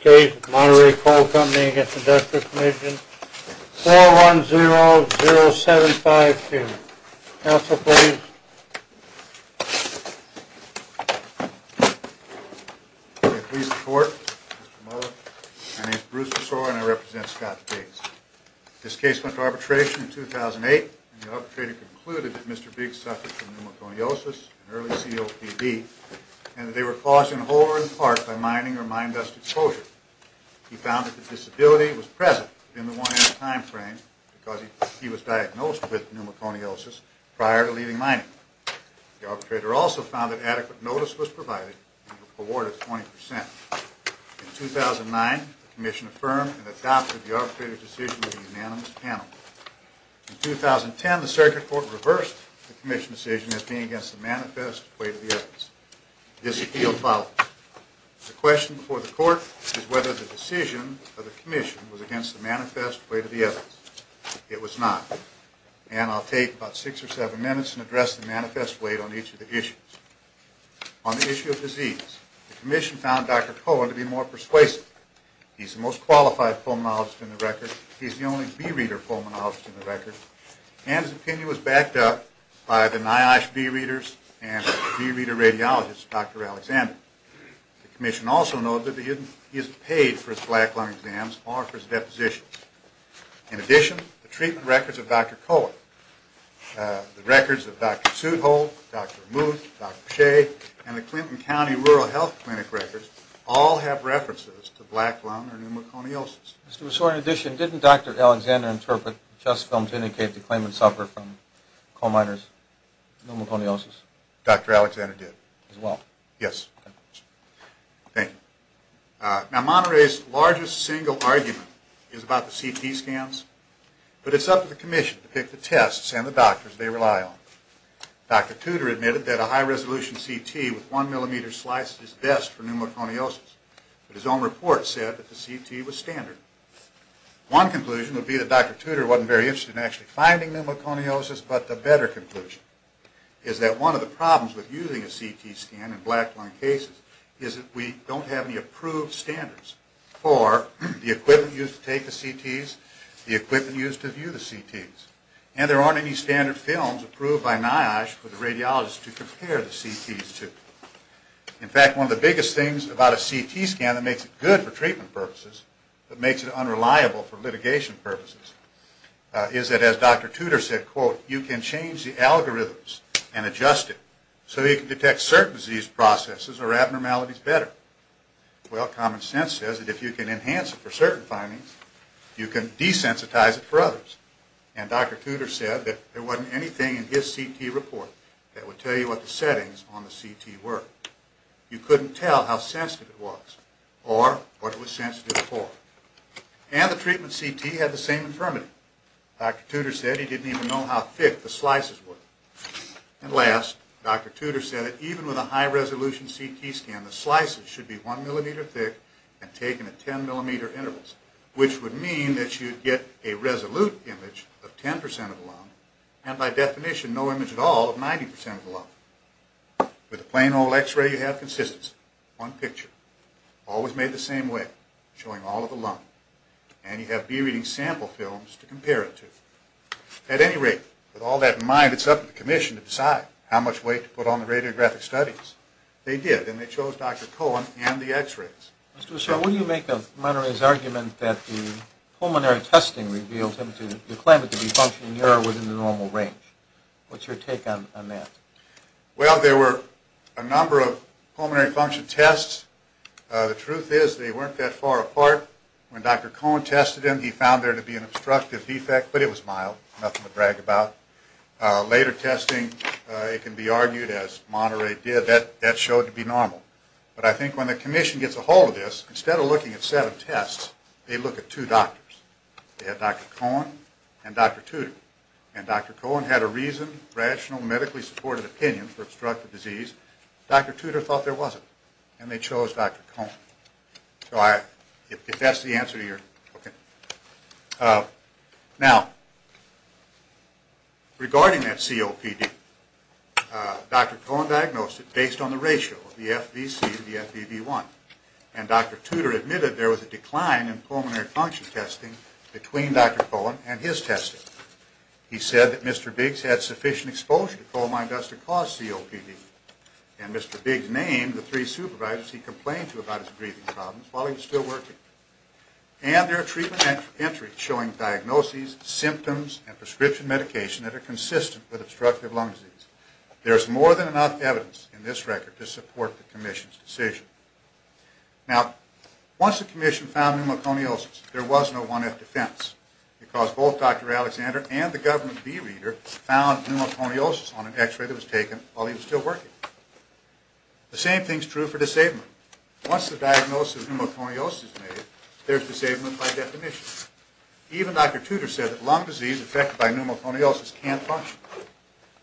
Case, Monterey Coal Company v. Industrial Commission, 4100752. Counsel, please. Please report, Mr. Muller. My name is Bruce Besore and I represent Scott Biggs. This case went to arbitration in 2008, and the arbitrator concluded that Mr. Biggs suffered from pneumoconiosis and early COPD, and that they were caused in whole or in part by mining or mine dust exposure. He found that the disability was present within the one-year time frame because he was diagnosed with pneumoconiosis prior to leaving mining. The arbitrator also found that adequate notice was provided and he was awarded 20%. In 2009, the commission affirmed and adopted the arbitrator's decision with a unanimous panel. In 2010, the circuit court reversed the commission's decision as being against the manifest weight of the evidence. This appeal filed. The question before the court is whether the decision of the commission was against the manifest weight of the evidence. It was not. And I'll take about six or seven minutes and address the manifest weight on each of the issues. On the issue of disease, the commission found Dr. Cohen to be more persuasive. He's the most qualified pulmonologist in the record. He's the only bee reader pulmonologist in the record. And his opinion was backed up by the NIOSH bee readers and bee reader radiologists, Dr. Alexander. The commission also noted that he isn't paid for his black lung exams or for his deposition. In addition, the treatment records of Dr. Cohen, the records of Dr. Sudholz, Dr. Muth, Dr. Shea, and the Clinton County Rural Health Clinic records all have references to black lung or pneumoconiosis. In addition, didn't Dr. Alexander interpret the test film to indicate the claimant suffered from coal miners' pneumoconiosis? Dr. Alexander did. As well? Yes. Thank you. Now, Monterey's largest single argument is about the CT scans, but it's up to the commission to pick the tests and the doctors they rely on. Dr. Tudor admitted that a high-resolution CT with one millimeter slice is best for pneumoconiosis, but his own report said that the CT was standard. One conclusion would be that Dr. Tudor wasn't very interested in actually finding pneumoconiosis, but the better conclusion is that one of the problems with using a CT scan in black lung cases is that we don't have any approved standards for the equipment used to take the CTs, the equipment used to view the CTs, and there aren't any standard films approved by NIOSH for the radiologists to compare the CTs to. In fact, one of the biggest things about a CT scan that makes it good for treatment purposes but makes it unreliable for litigation purposes is that, as Dr. Tudor said, quote, you can change the algorithms and adjust it so that you can detect certain disease processes or abnormalities better. Well, common sense says that if you can enhance it for certain findings, you can desensitize it for others, and Dr. Tudor said that there wasn't anything in his CT report that would tell you what the settings on the CT were. You couldn't tell how sensitive it was or what it was sensitive for. And the treatment CT had the same infirmity. Dr. Tudor said he didn't even know how thick the slices were. And last, Dr. Tudor said that even with a high-resolution CT scan, the slices should be one millimeter thick and taken at 10-millimeter intervals, which would mean that you'd get a resolute image of 10% of the lung and, by definition, no image at all of 90% of the lung. With a plain old X-ray, you have consistency. One picture, always made the same way, showing all of the lung. And you have B-reading sample films to compare it to. At any rate, with all that in mind, it's up to the commission to decide how much weight to put on the radiographic studies. Mr. O'Shea, what do you make of Monterey's argument that the pulmonary testing revealed him to claim it to be functioning near or within the normal range? What's your take on that? Well, there were a number of pulmonary function tests. The truth is they weren't that far apart. When Dr. Cohen tested him, he found there to be an obstructive defect, but it was mild. Nothing to brag about. Later testing, it can be argued, as Monterey did, that that showed to be normal. But I think when the commission gets a hold of this, instead of looking at seven tests, they look at two doctors. They had Dr. Cohen and Dr. Tudor. And Dr. Cohen had a reasoned, rational, medically supported opinion for obstructive disease. Dr. Tudor thought there wasn't. And they chose Dr. Cohen. If that's the answer you're looking for. Now, regarding that COPD, Dr. Cohen diagnosed it based on the ratio of the FBC to the FBB1. And Dr. Tudor admitted there was a decline in pulmonary function testing between Dr. Cohen and his testing. He said that Mr. Biggs had sufficient exposure to coal mine dust to cause COPD. And Mr. Biggs named the three supervisors he complained to about his breathing problems while he was still working. And there are treatment entries showing diagnoses, symptoms, and prescription medication that are consistent with obstructive lung disease. There is more than enough evidence in this record to support the commission's decision. Now, once the commission found pneumoconiosis, there was no 1F defense. Because both Dr. Alexander and the government bee reader found pneumoconiosis on an x-ray that was taken while he was still working. The same thing is true for disabling. Once the diagnosis of pneumoconiosis is made, there is disablement by definition. Even Dr. Tudor said that lung disease affected by pneumoconiosis can't function.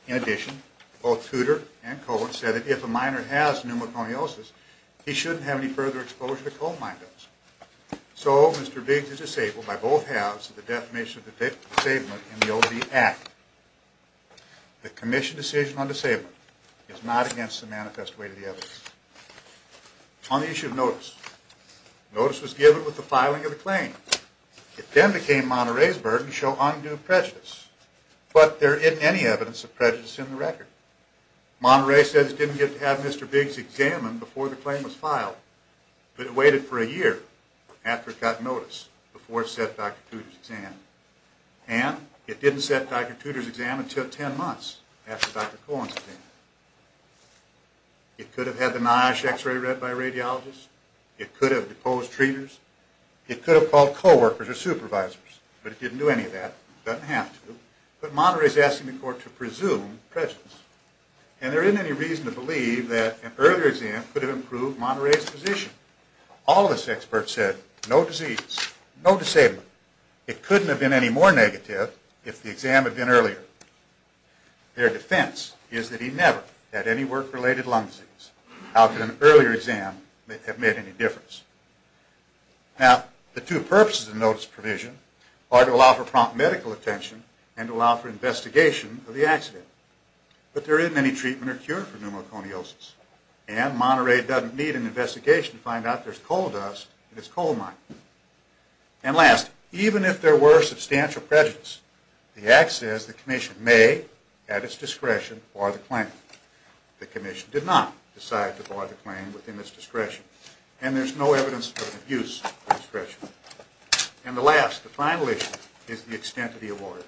In addition, both Tudor and Cohen said that if a miner has pneumoconiosis, he shouldn't have any further exposure to coal mine dust. So, Mr. Biggs is disabled by both halves of the definition of disablement in the OB Act. The commission decision on disablement is not against the manifest way to the evidence. On the issue of notice, notice was given with the filing of the claim. It then became Monterey's burden to show undue prejudice. But there isn't any evidence of prejudice in the record. Monterey says it didn't get to have Mr. Biggs examined before the claim was filed. But it waited for a year after it got notice before it set Dr. Tudor's exam. And it didn't set Dr. Tudor's exam until 10 months after Dr. Cohen's claim. It could have had the NIOSH x-ray read by a radiologist. It could have deposed treaters. It could have called co-workers or supervisors. But it didn't do any of that. It doesn't have to. But Monterey is asking the court to presume prejudice. And there isn't any reason to believe that an earlier exam could have improved Monterey's position. All of us experts said, no disease, no disablement. It couldn't have been any more negative if the exam had been earlier. Their defense is that he never had any work-related lung disease. How could an earlier exam have made any difference? Now, the two purposes of the notice provision are to allow for prompt medical attention and to allow for investigation of the accident. But there isn't any treatment or cure for pneumoconiosis. And Monterey doesn't need an investigation to find out there's coal dust in his coal mine. And last, even if there were substantial prejudice, the act says the commission may, at its discretion, bar the claim. The commission did not decide to bar the claim within its discretion. And there's no evidence of an abuse of discretion. And the last, the final issue, is the extent of the award.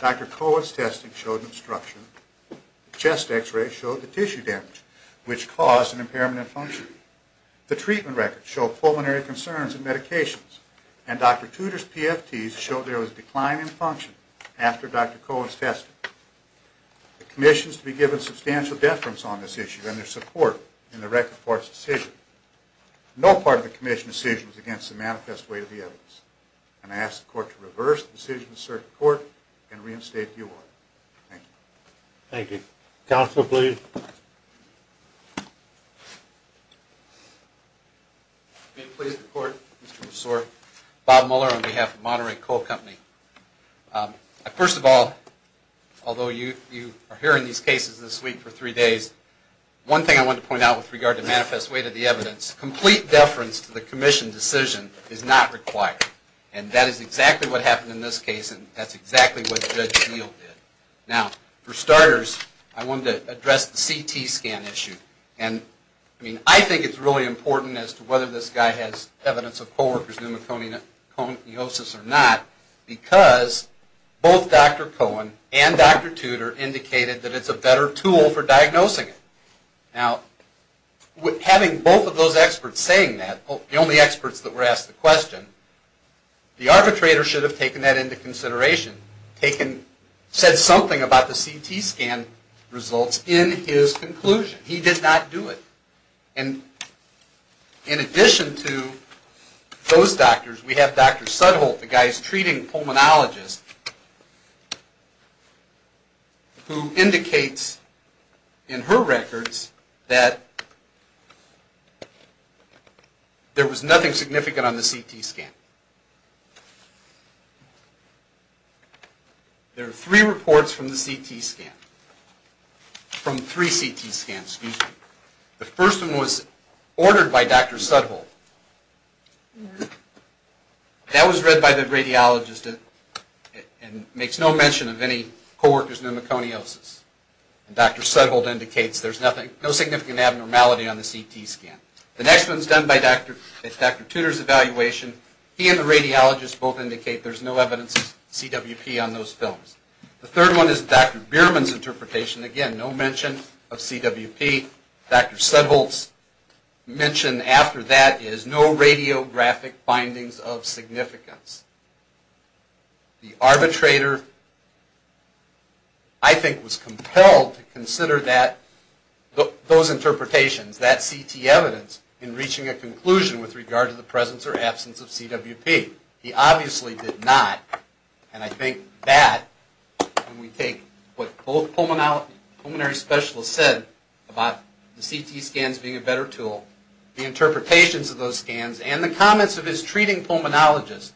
Dr. Cohen's testing showed obstruction. The chest x-ray showed the tissue damage, which caused an impairment in function. The treatment records show pulmonary concerns and medications. And Dr. Tudor's PFTs showed there was a decline in function after Dr. Cohen's testing. The commission is to be given substantial deference on this issue and their support in the record court's decision. No part of the commission's decision is against the manifest way of the evidence. And I ask the court to reverse the decision of the circuit court and reinstate the award. Thank you. Thank you. Counsel, please. Being pleased to report, Mr. McSore. Bob Muller on behalf of Monterey Coal Company. First of all, although you are hearing these cases this week for three days, one thing I want to point out with regard to manifest way to the evidence, complete deference to the commission decision is not required. And that is exactly what happened in this case, and that's exactly what Judge Neal did. Now, for starters, I wanted to address the CT scan issue. And, I mean, I think it's really important as to whether this guy has evidence of co-worker's pneumoconiosis or not because both Dr. Cohen and Dr. Tudor indicated that it's a better tool for diagnosing it. Now, having both of those experts saying that, the only experts that were asked the question, the arbitrator should have taken that into consideration, said something about the CT scan results in his conclusion. He did not do it. And, in addition to those doctors, we have Dr. Sudholt, the guy's treating pulmonologist, who indicates in her records that there was nothing significant on the CT scan. There are three reports from the CT scan, from three CT scans. The first one was ordered by Dr. Sudholt. That was read by the radiologist and makes no mention of any co-worker's pneumoconiosis. Dr. Sudholt indicates there's no significant abnormality on the CT scan. The next one's done by Dr. Tudor's evaluation. He and the radiologist both indicate there's no evidence of CWP on those films. The third one is Dr. Bierman's interpretation. Again, no mention of CWP. Dr. Sudholt's mention after that is no radiographic findings of significance. The arbitrator, I think, was compelled to consider those interpretations, that CT evidence, in reaching a conclusion with regard to the presence or absence of CWP. He obviously did not. And I think that, when we take what both pulmonary specialists said about the CT scans being a better tool, the interpretations of those scans, and the comments of his treating pulmonologist,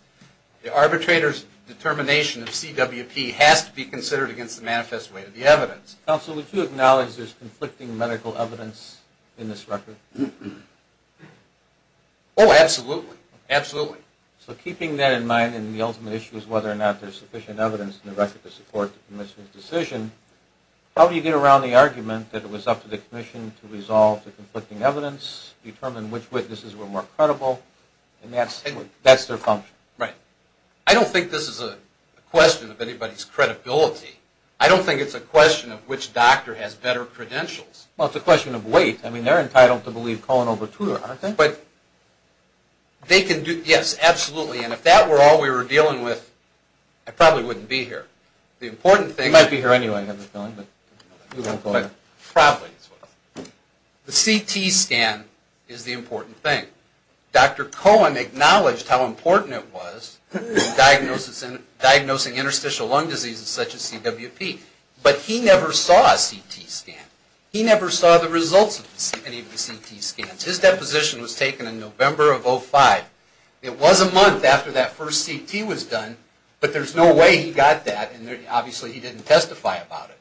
the arbitrator's determination of CWP has to be considered against the manifest weight of the evidence. Counsel, would you acknowledge there's conflicting medical evidence in this record? Oh, absolutely. Absolutely. So keeping that in mind, and the ultimate issue is whether or not there's sufficient evidence in the record to support the commission's decision, how do you get around the argument that it was up to the commission to resolve the conflicting evidence, determine which witnesses were more credible, and that's their function? Right. I don't think this is a question of anybody's credibility. I don't think it's a question of which doctor has better credentials. Well, it's a question of weight. I mean, they're entitled to believe Cohen over Tudor, aren't they? Yes, absolutely. And if that were all we were dealing with, I probably wouldn't be here. You might be here anyway, I have a feeling, but you won't go anywhere. Probably as well. The CT scan is the important thing. Dr. Cohen acknowledged how important it was in diagnosing interstitial lung diseases such as CWP, but he never saw a CT scan. He never saw the results of any of the CT scans. His deposition was taken in November of 2005. It was a month after that first CT was done, but there's no way he got that, and obviously he didn't testify about it.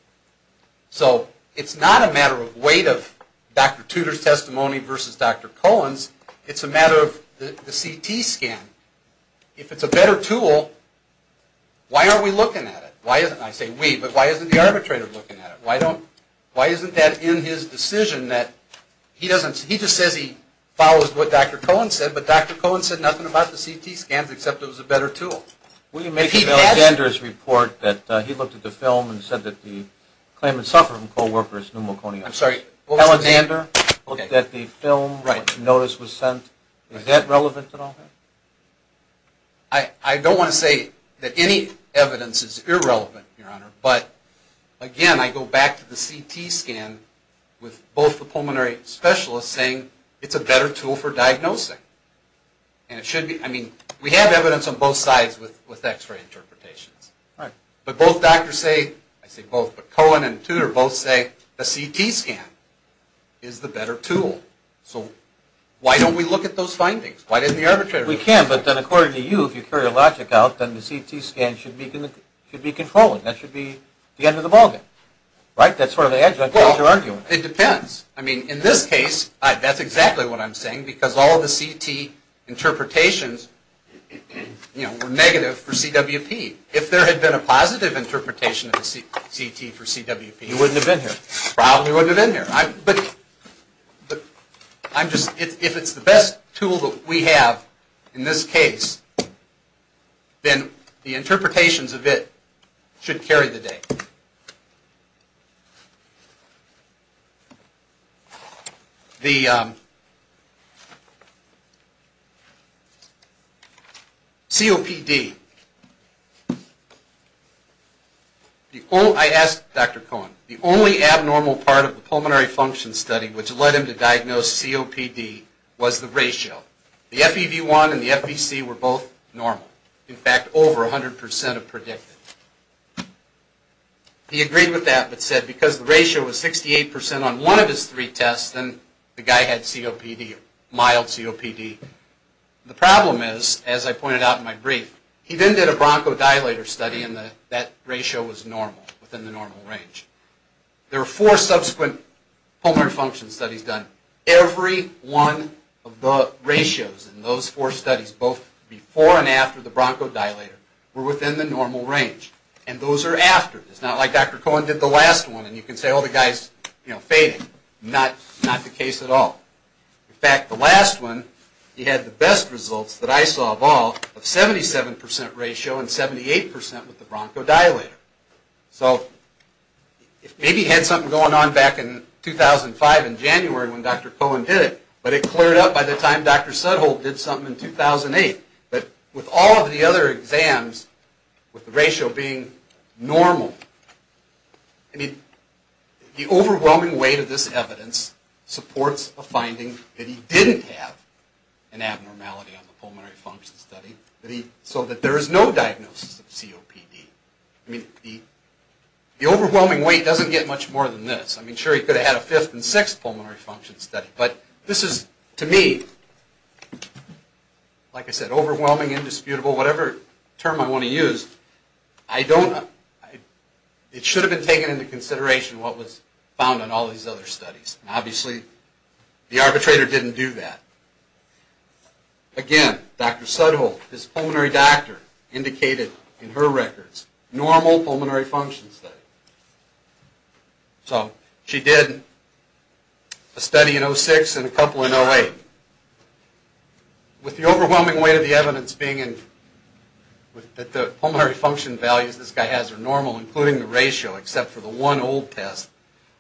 So it's not a matter of weight of Dr. Tudor's testimony versus Dr. Cohen's. It's a matter of the CT scan. If it's a better tool, why aren't we looking at it? I say we, but why isn't the arbitrator looking at it? Why isn't that in his decision that he just says he follows what Dr. Cohen said, but Dr. Cohen said nothing about the CT scans except it was a better tool? Will you make it Alexander's report that he looked at the film and said that the claimant suffered from co-workers pneumoconiosis? I'm sorry? Alexander looked at the film, the notice was sent. Is that relevant at all? I don't want to say that any evidence is irrelevant, Your Honor, but again I go back to the CT scan with both the pulmonary specialists saying it's a better tool for diagnosing. We have evidence on both sides with x-ray interpretations. But both doctors say, I say both, but Cohen and Tudor both say the CT scan is the better tool. So why don't we look at those findings? Why doesn't the arbitrator look at it? We can, but then according to you, if you carry your logic out, then the CT scan should be controlling. That should be the end of the ballgame. Right? That's sort of the edge of your argument. It depends. I mean, in this case, that's exactly what I'm saying, because all the CT interpretations were negative for CWP. If there had been a positive interpretation of the CT for CWP, you probably wouldn't have been here. But if it's the best tool that we have in this case, then the interpretations of it should carry the day. The COPD. I asked Dr. Cohen, the only abnormal part of the pulmonary function study which led him to diagnose COPD was the ratio. The FEV1 and the FEC were both normal. In fact, over 100% of predicted. He agreed with that, but said because the ratio was 68% on one of his three tests, then the guy had COPD, mild COPD. The problem is, as I pointed out in my brief, he then did a bronchodilator study, and that ratio was normal, within the normal range. There were four subsequent pulmonary function studies done. Every one of the ratios in those four studies, both before and after the bronchodilator, were within the normal range. And those are after. It's not like Dr. Cohen did the last one, and you can say, oh, the guy's fading. Not the case at all. In fact, the last one, he had the best results that I saw of all of 77% ratio and 78% with the bronchodilator. So, maybe he had something going on back in 2005, in January, when Dr. Cohen did it, but it cleared up by the time Dr. Sudholt did something in 2008. But with all of the other exams, with the ratio being normal, I mean, the overwhelming weight of this evidence supports a finding that he didn't have an abnormality on the pulmonary function study, so that there is no diagnosis of COPD. I mean, the overwhelming weight doesn't get much more than this. I mean, sure, he could have had a 5th and 6th pulmonary function study, but this is, to me, like I said, overwhelming, indisputable, whatever term I want to use, it should have been taken into consideration what was found in all these other studies. Obviously, the arbitrator didn't do that. Again, Dr. Sudholt, his pulmonary doctor, indicated in her records, normal pulmonary function study. So, she did a study in 2006, and a couple in 2008. With the overwhelming weight of the evidence being in, that the pulmonary function values this guy has are normal, including the ratio, except for the one old test,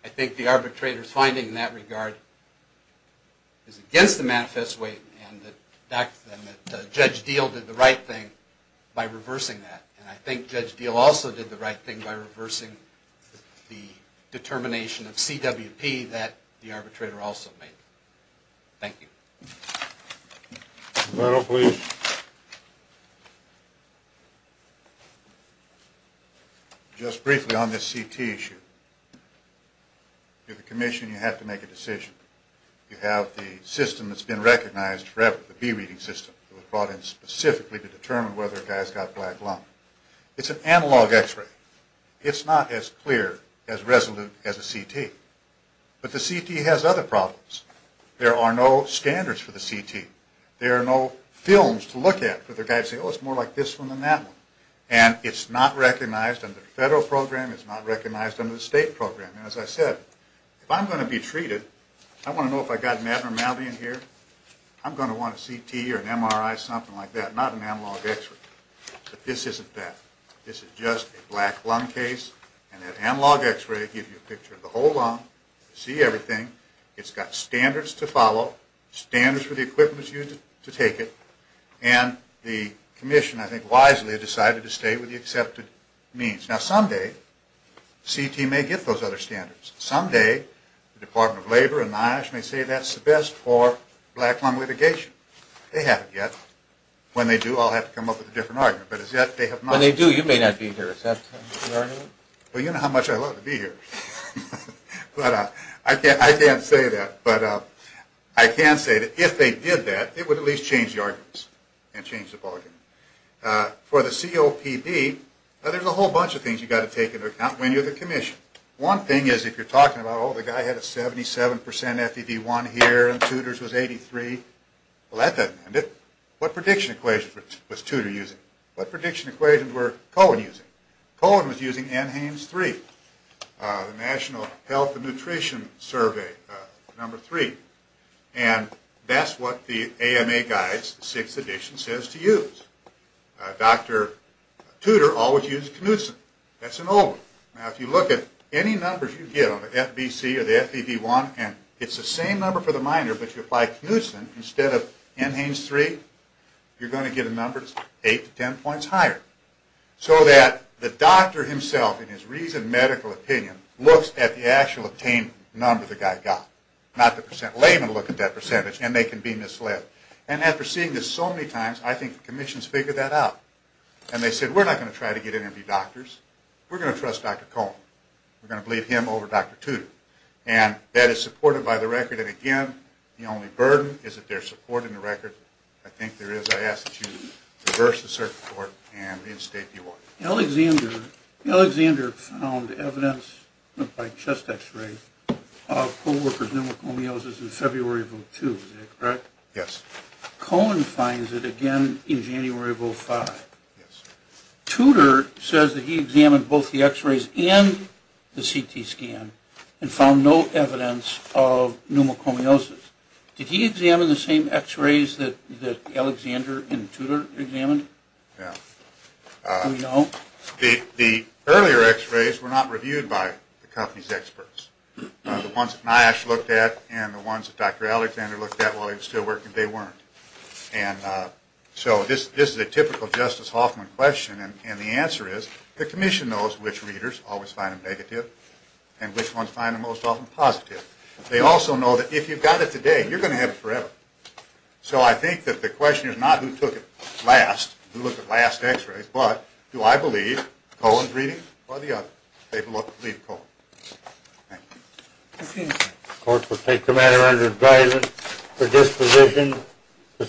I think the arbitrator's finding in that regard is against the manifest weight, and that Judge Deal did the right thing by reversing that. And I think Judge Deal also did the right thing by reversing the determination of CWP that the arbitrator also made. Thank you. Just briefly on this CT issue. You're the commission, you have to make a decision. You have the system that's been recognized forever, the B-reading system that was brought in specifically to determine whether a guy's got black lung. It's an analog X-ray. It's not as clear, as resolute as a CT. But the CT has other problems. There are no standards for the CT. There are no films to look at for the guy to say, And as I said, if I'm going to be treated, I want to know if I've got an abnormality in here, I'm going to want a CT or an MRI, something like that, not an analog X-ray. But this isn't that. This is just a black lung case, and that analog X-ray will give you a picture of the whole lung, see everything. It's got standards to follow, standards for the equipment that's used to take it, and the commission, I think wisely, decided to stay with the accepted means. Now someday, CT may get those other standards. Someday, the Department of Labor and NIOSH may say that's the best for black lung litigation. They haven't yet. When they do, I'll have to come up with a different argument. But as yet, they have not. When they do, you may not be here. Well, you know how much I love to be here. I can't say that. But I can say that if they did that, it would at least change the arguments and change the bargaining. For the COPD, there's a whole bunch of things you've got to take into account when you're the commission. One thing is if you're talking about, oh, the guy had a 77% FEV1 here, and Tudor's was 83, well, that doesn't end it. What prediction equation was Tudor using? What prediction equation was Cohen using? Cohen was using NHANES 3, the National Health and Nutrition Survey, number 3. And that's what the AMA guide, 6th edition, says to use. Dr. Tudor always uses Knudsen. That's an old one. Now if you look at any numbers you get on the FBC or the FEV1, and it's the same number for the minor, but you apply Knudsen instead of NHANES 3, you're going to get a number that's 8 to 10 points higher. So that the doctor himself, in his reasoned medical opinion, looks at the actual obtained number the guy got, not the percent. Laymen look at that percentage, and they can be misled. And after seeing this so many times, I think the commissions figured that out. And they said, we're not going to try to get in and be doctors. We're going to trust Dr. Cohen. We're going to believe him over Dr. Tudor. And that is supported by the record. And again, the only burden is that there's support in the record. I think there is. I ask that you reverse the circuit board and reinstate the award. Alexander found evidence by chest x-ray of co-workers with pneumoconiosis in February of 2002. Is that correct? Yes. Cohen finds it again in January of 2005. Yes. Tudor says that he examined both the x-rays and the CT scan and found no evidence of pneumoconiosis. Did he examine the same x-rays that Alexander and Tudor examined? Yeah. Do we know? The earlier x-rays were not reviewed by the company's experts. The ones that NIOSH looked at and the ones that Dr. Alexander looked at while he was still working, they weren't. And so this is a typical Justice Hoffman question. And the answer is the commission knows which readers always find them negative and which ones find them most often positive. They also know that if you've got it today, you're going to have it forever. So I think that the question is not who took it last, who looked at last x-rays, but do I believe Cohen's reading or the other? I believe Cohen. Thank you. Of course, we'll take the matter under advisement for disposition. Thank you.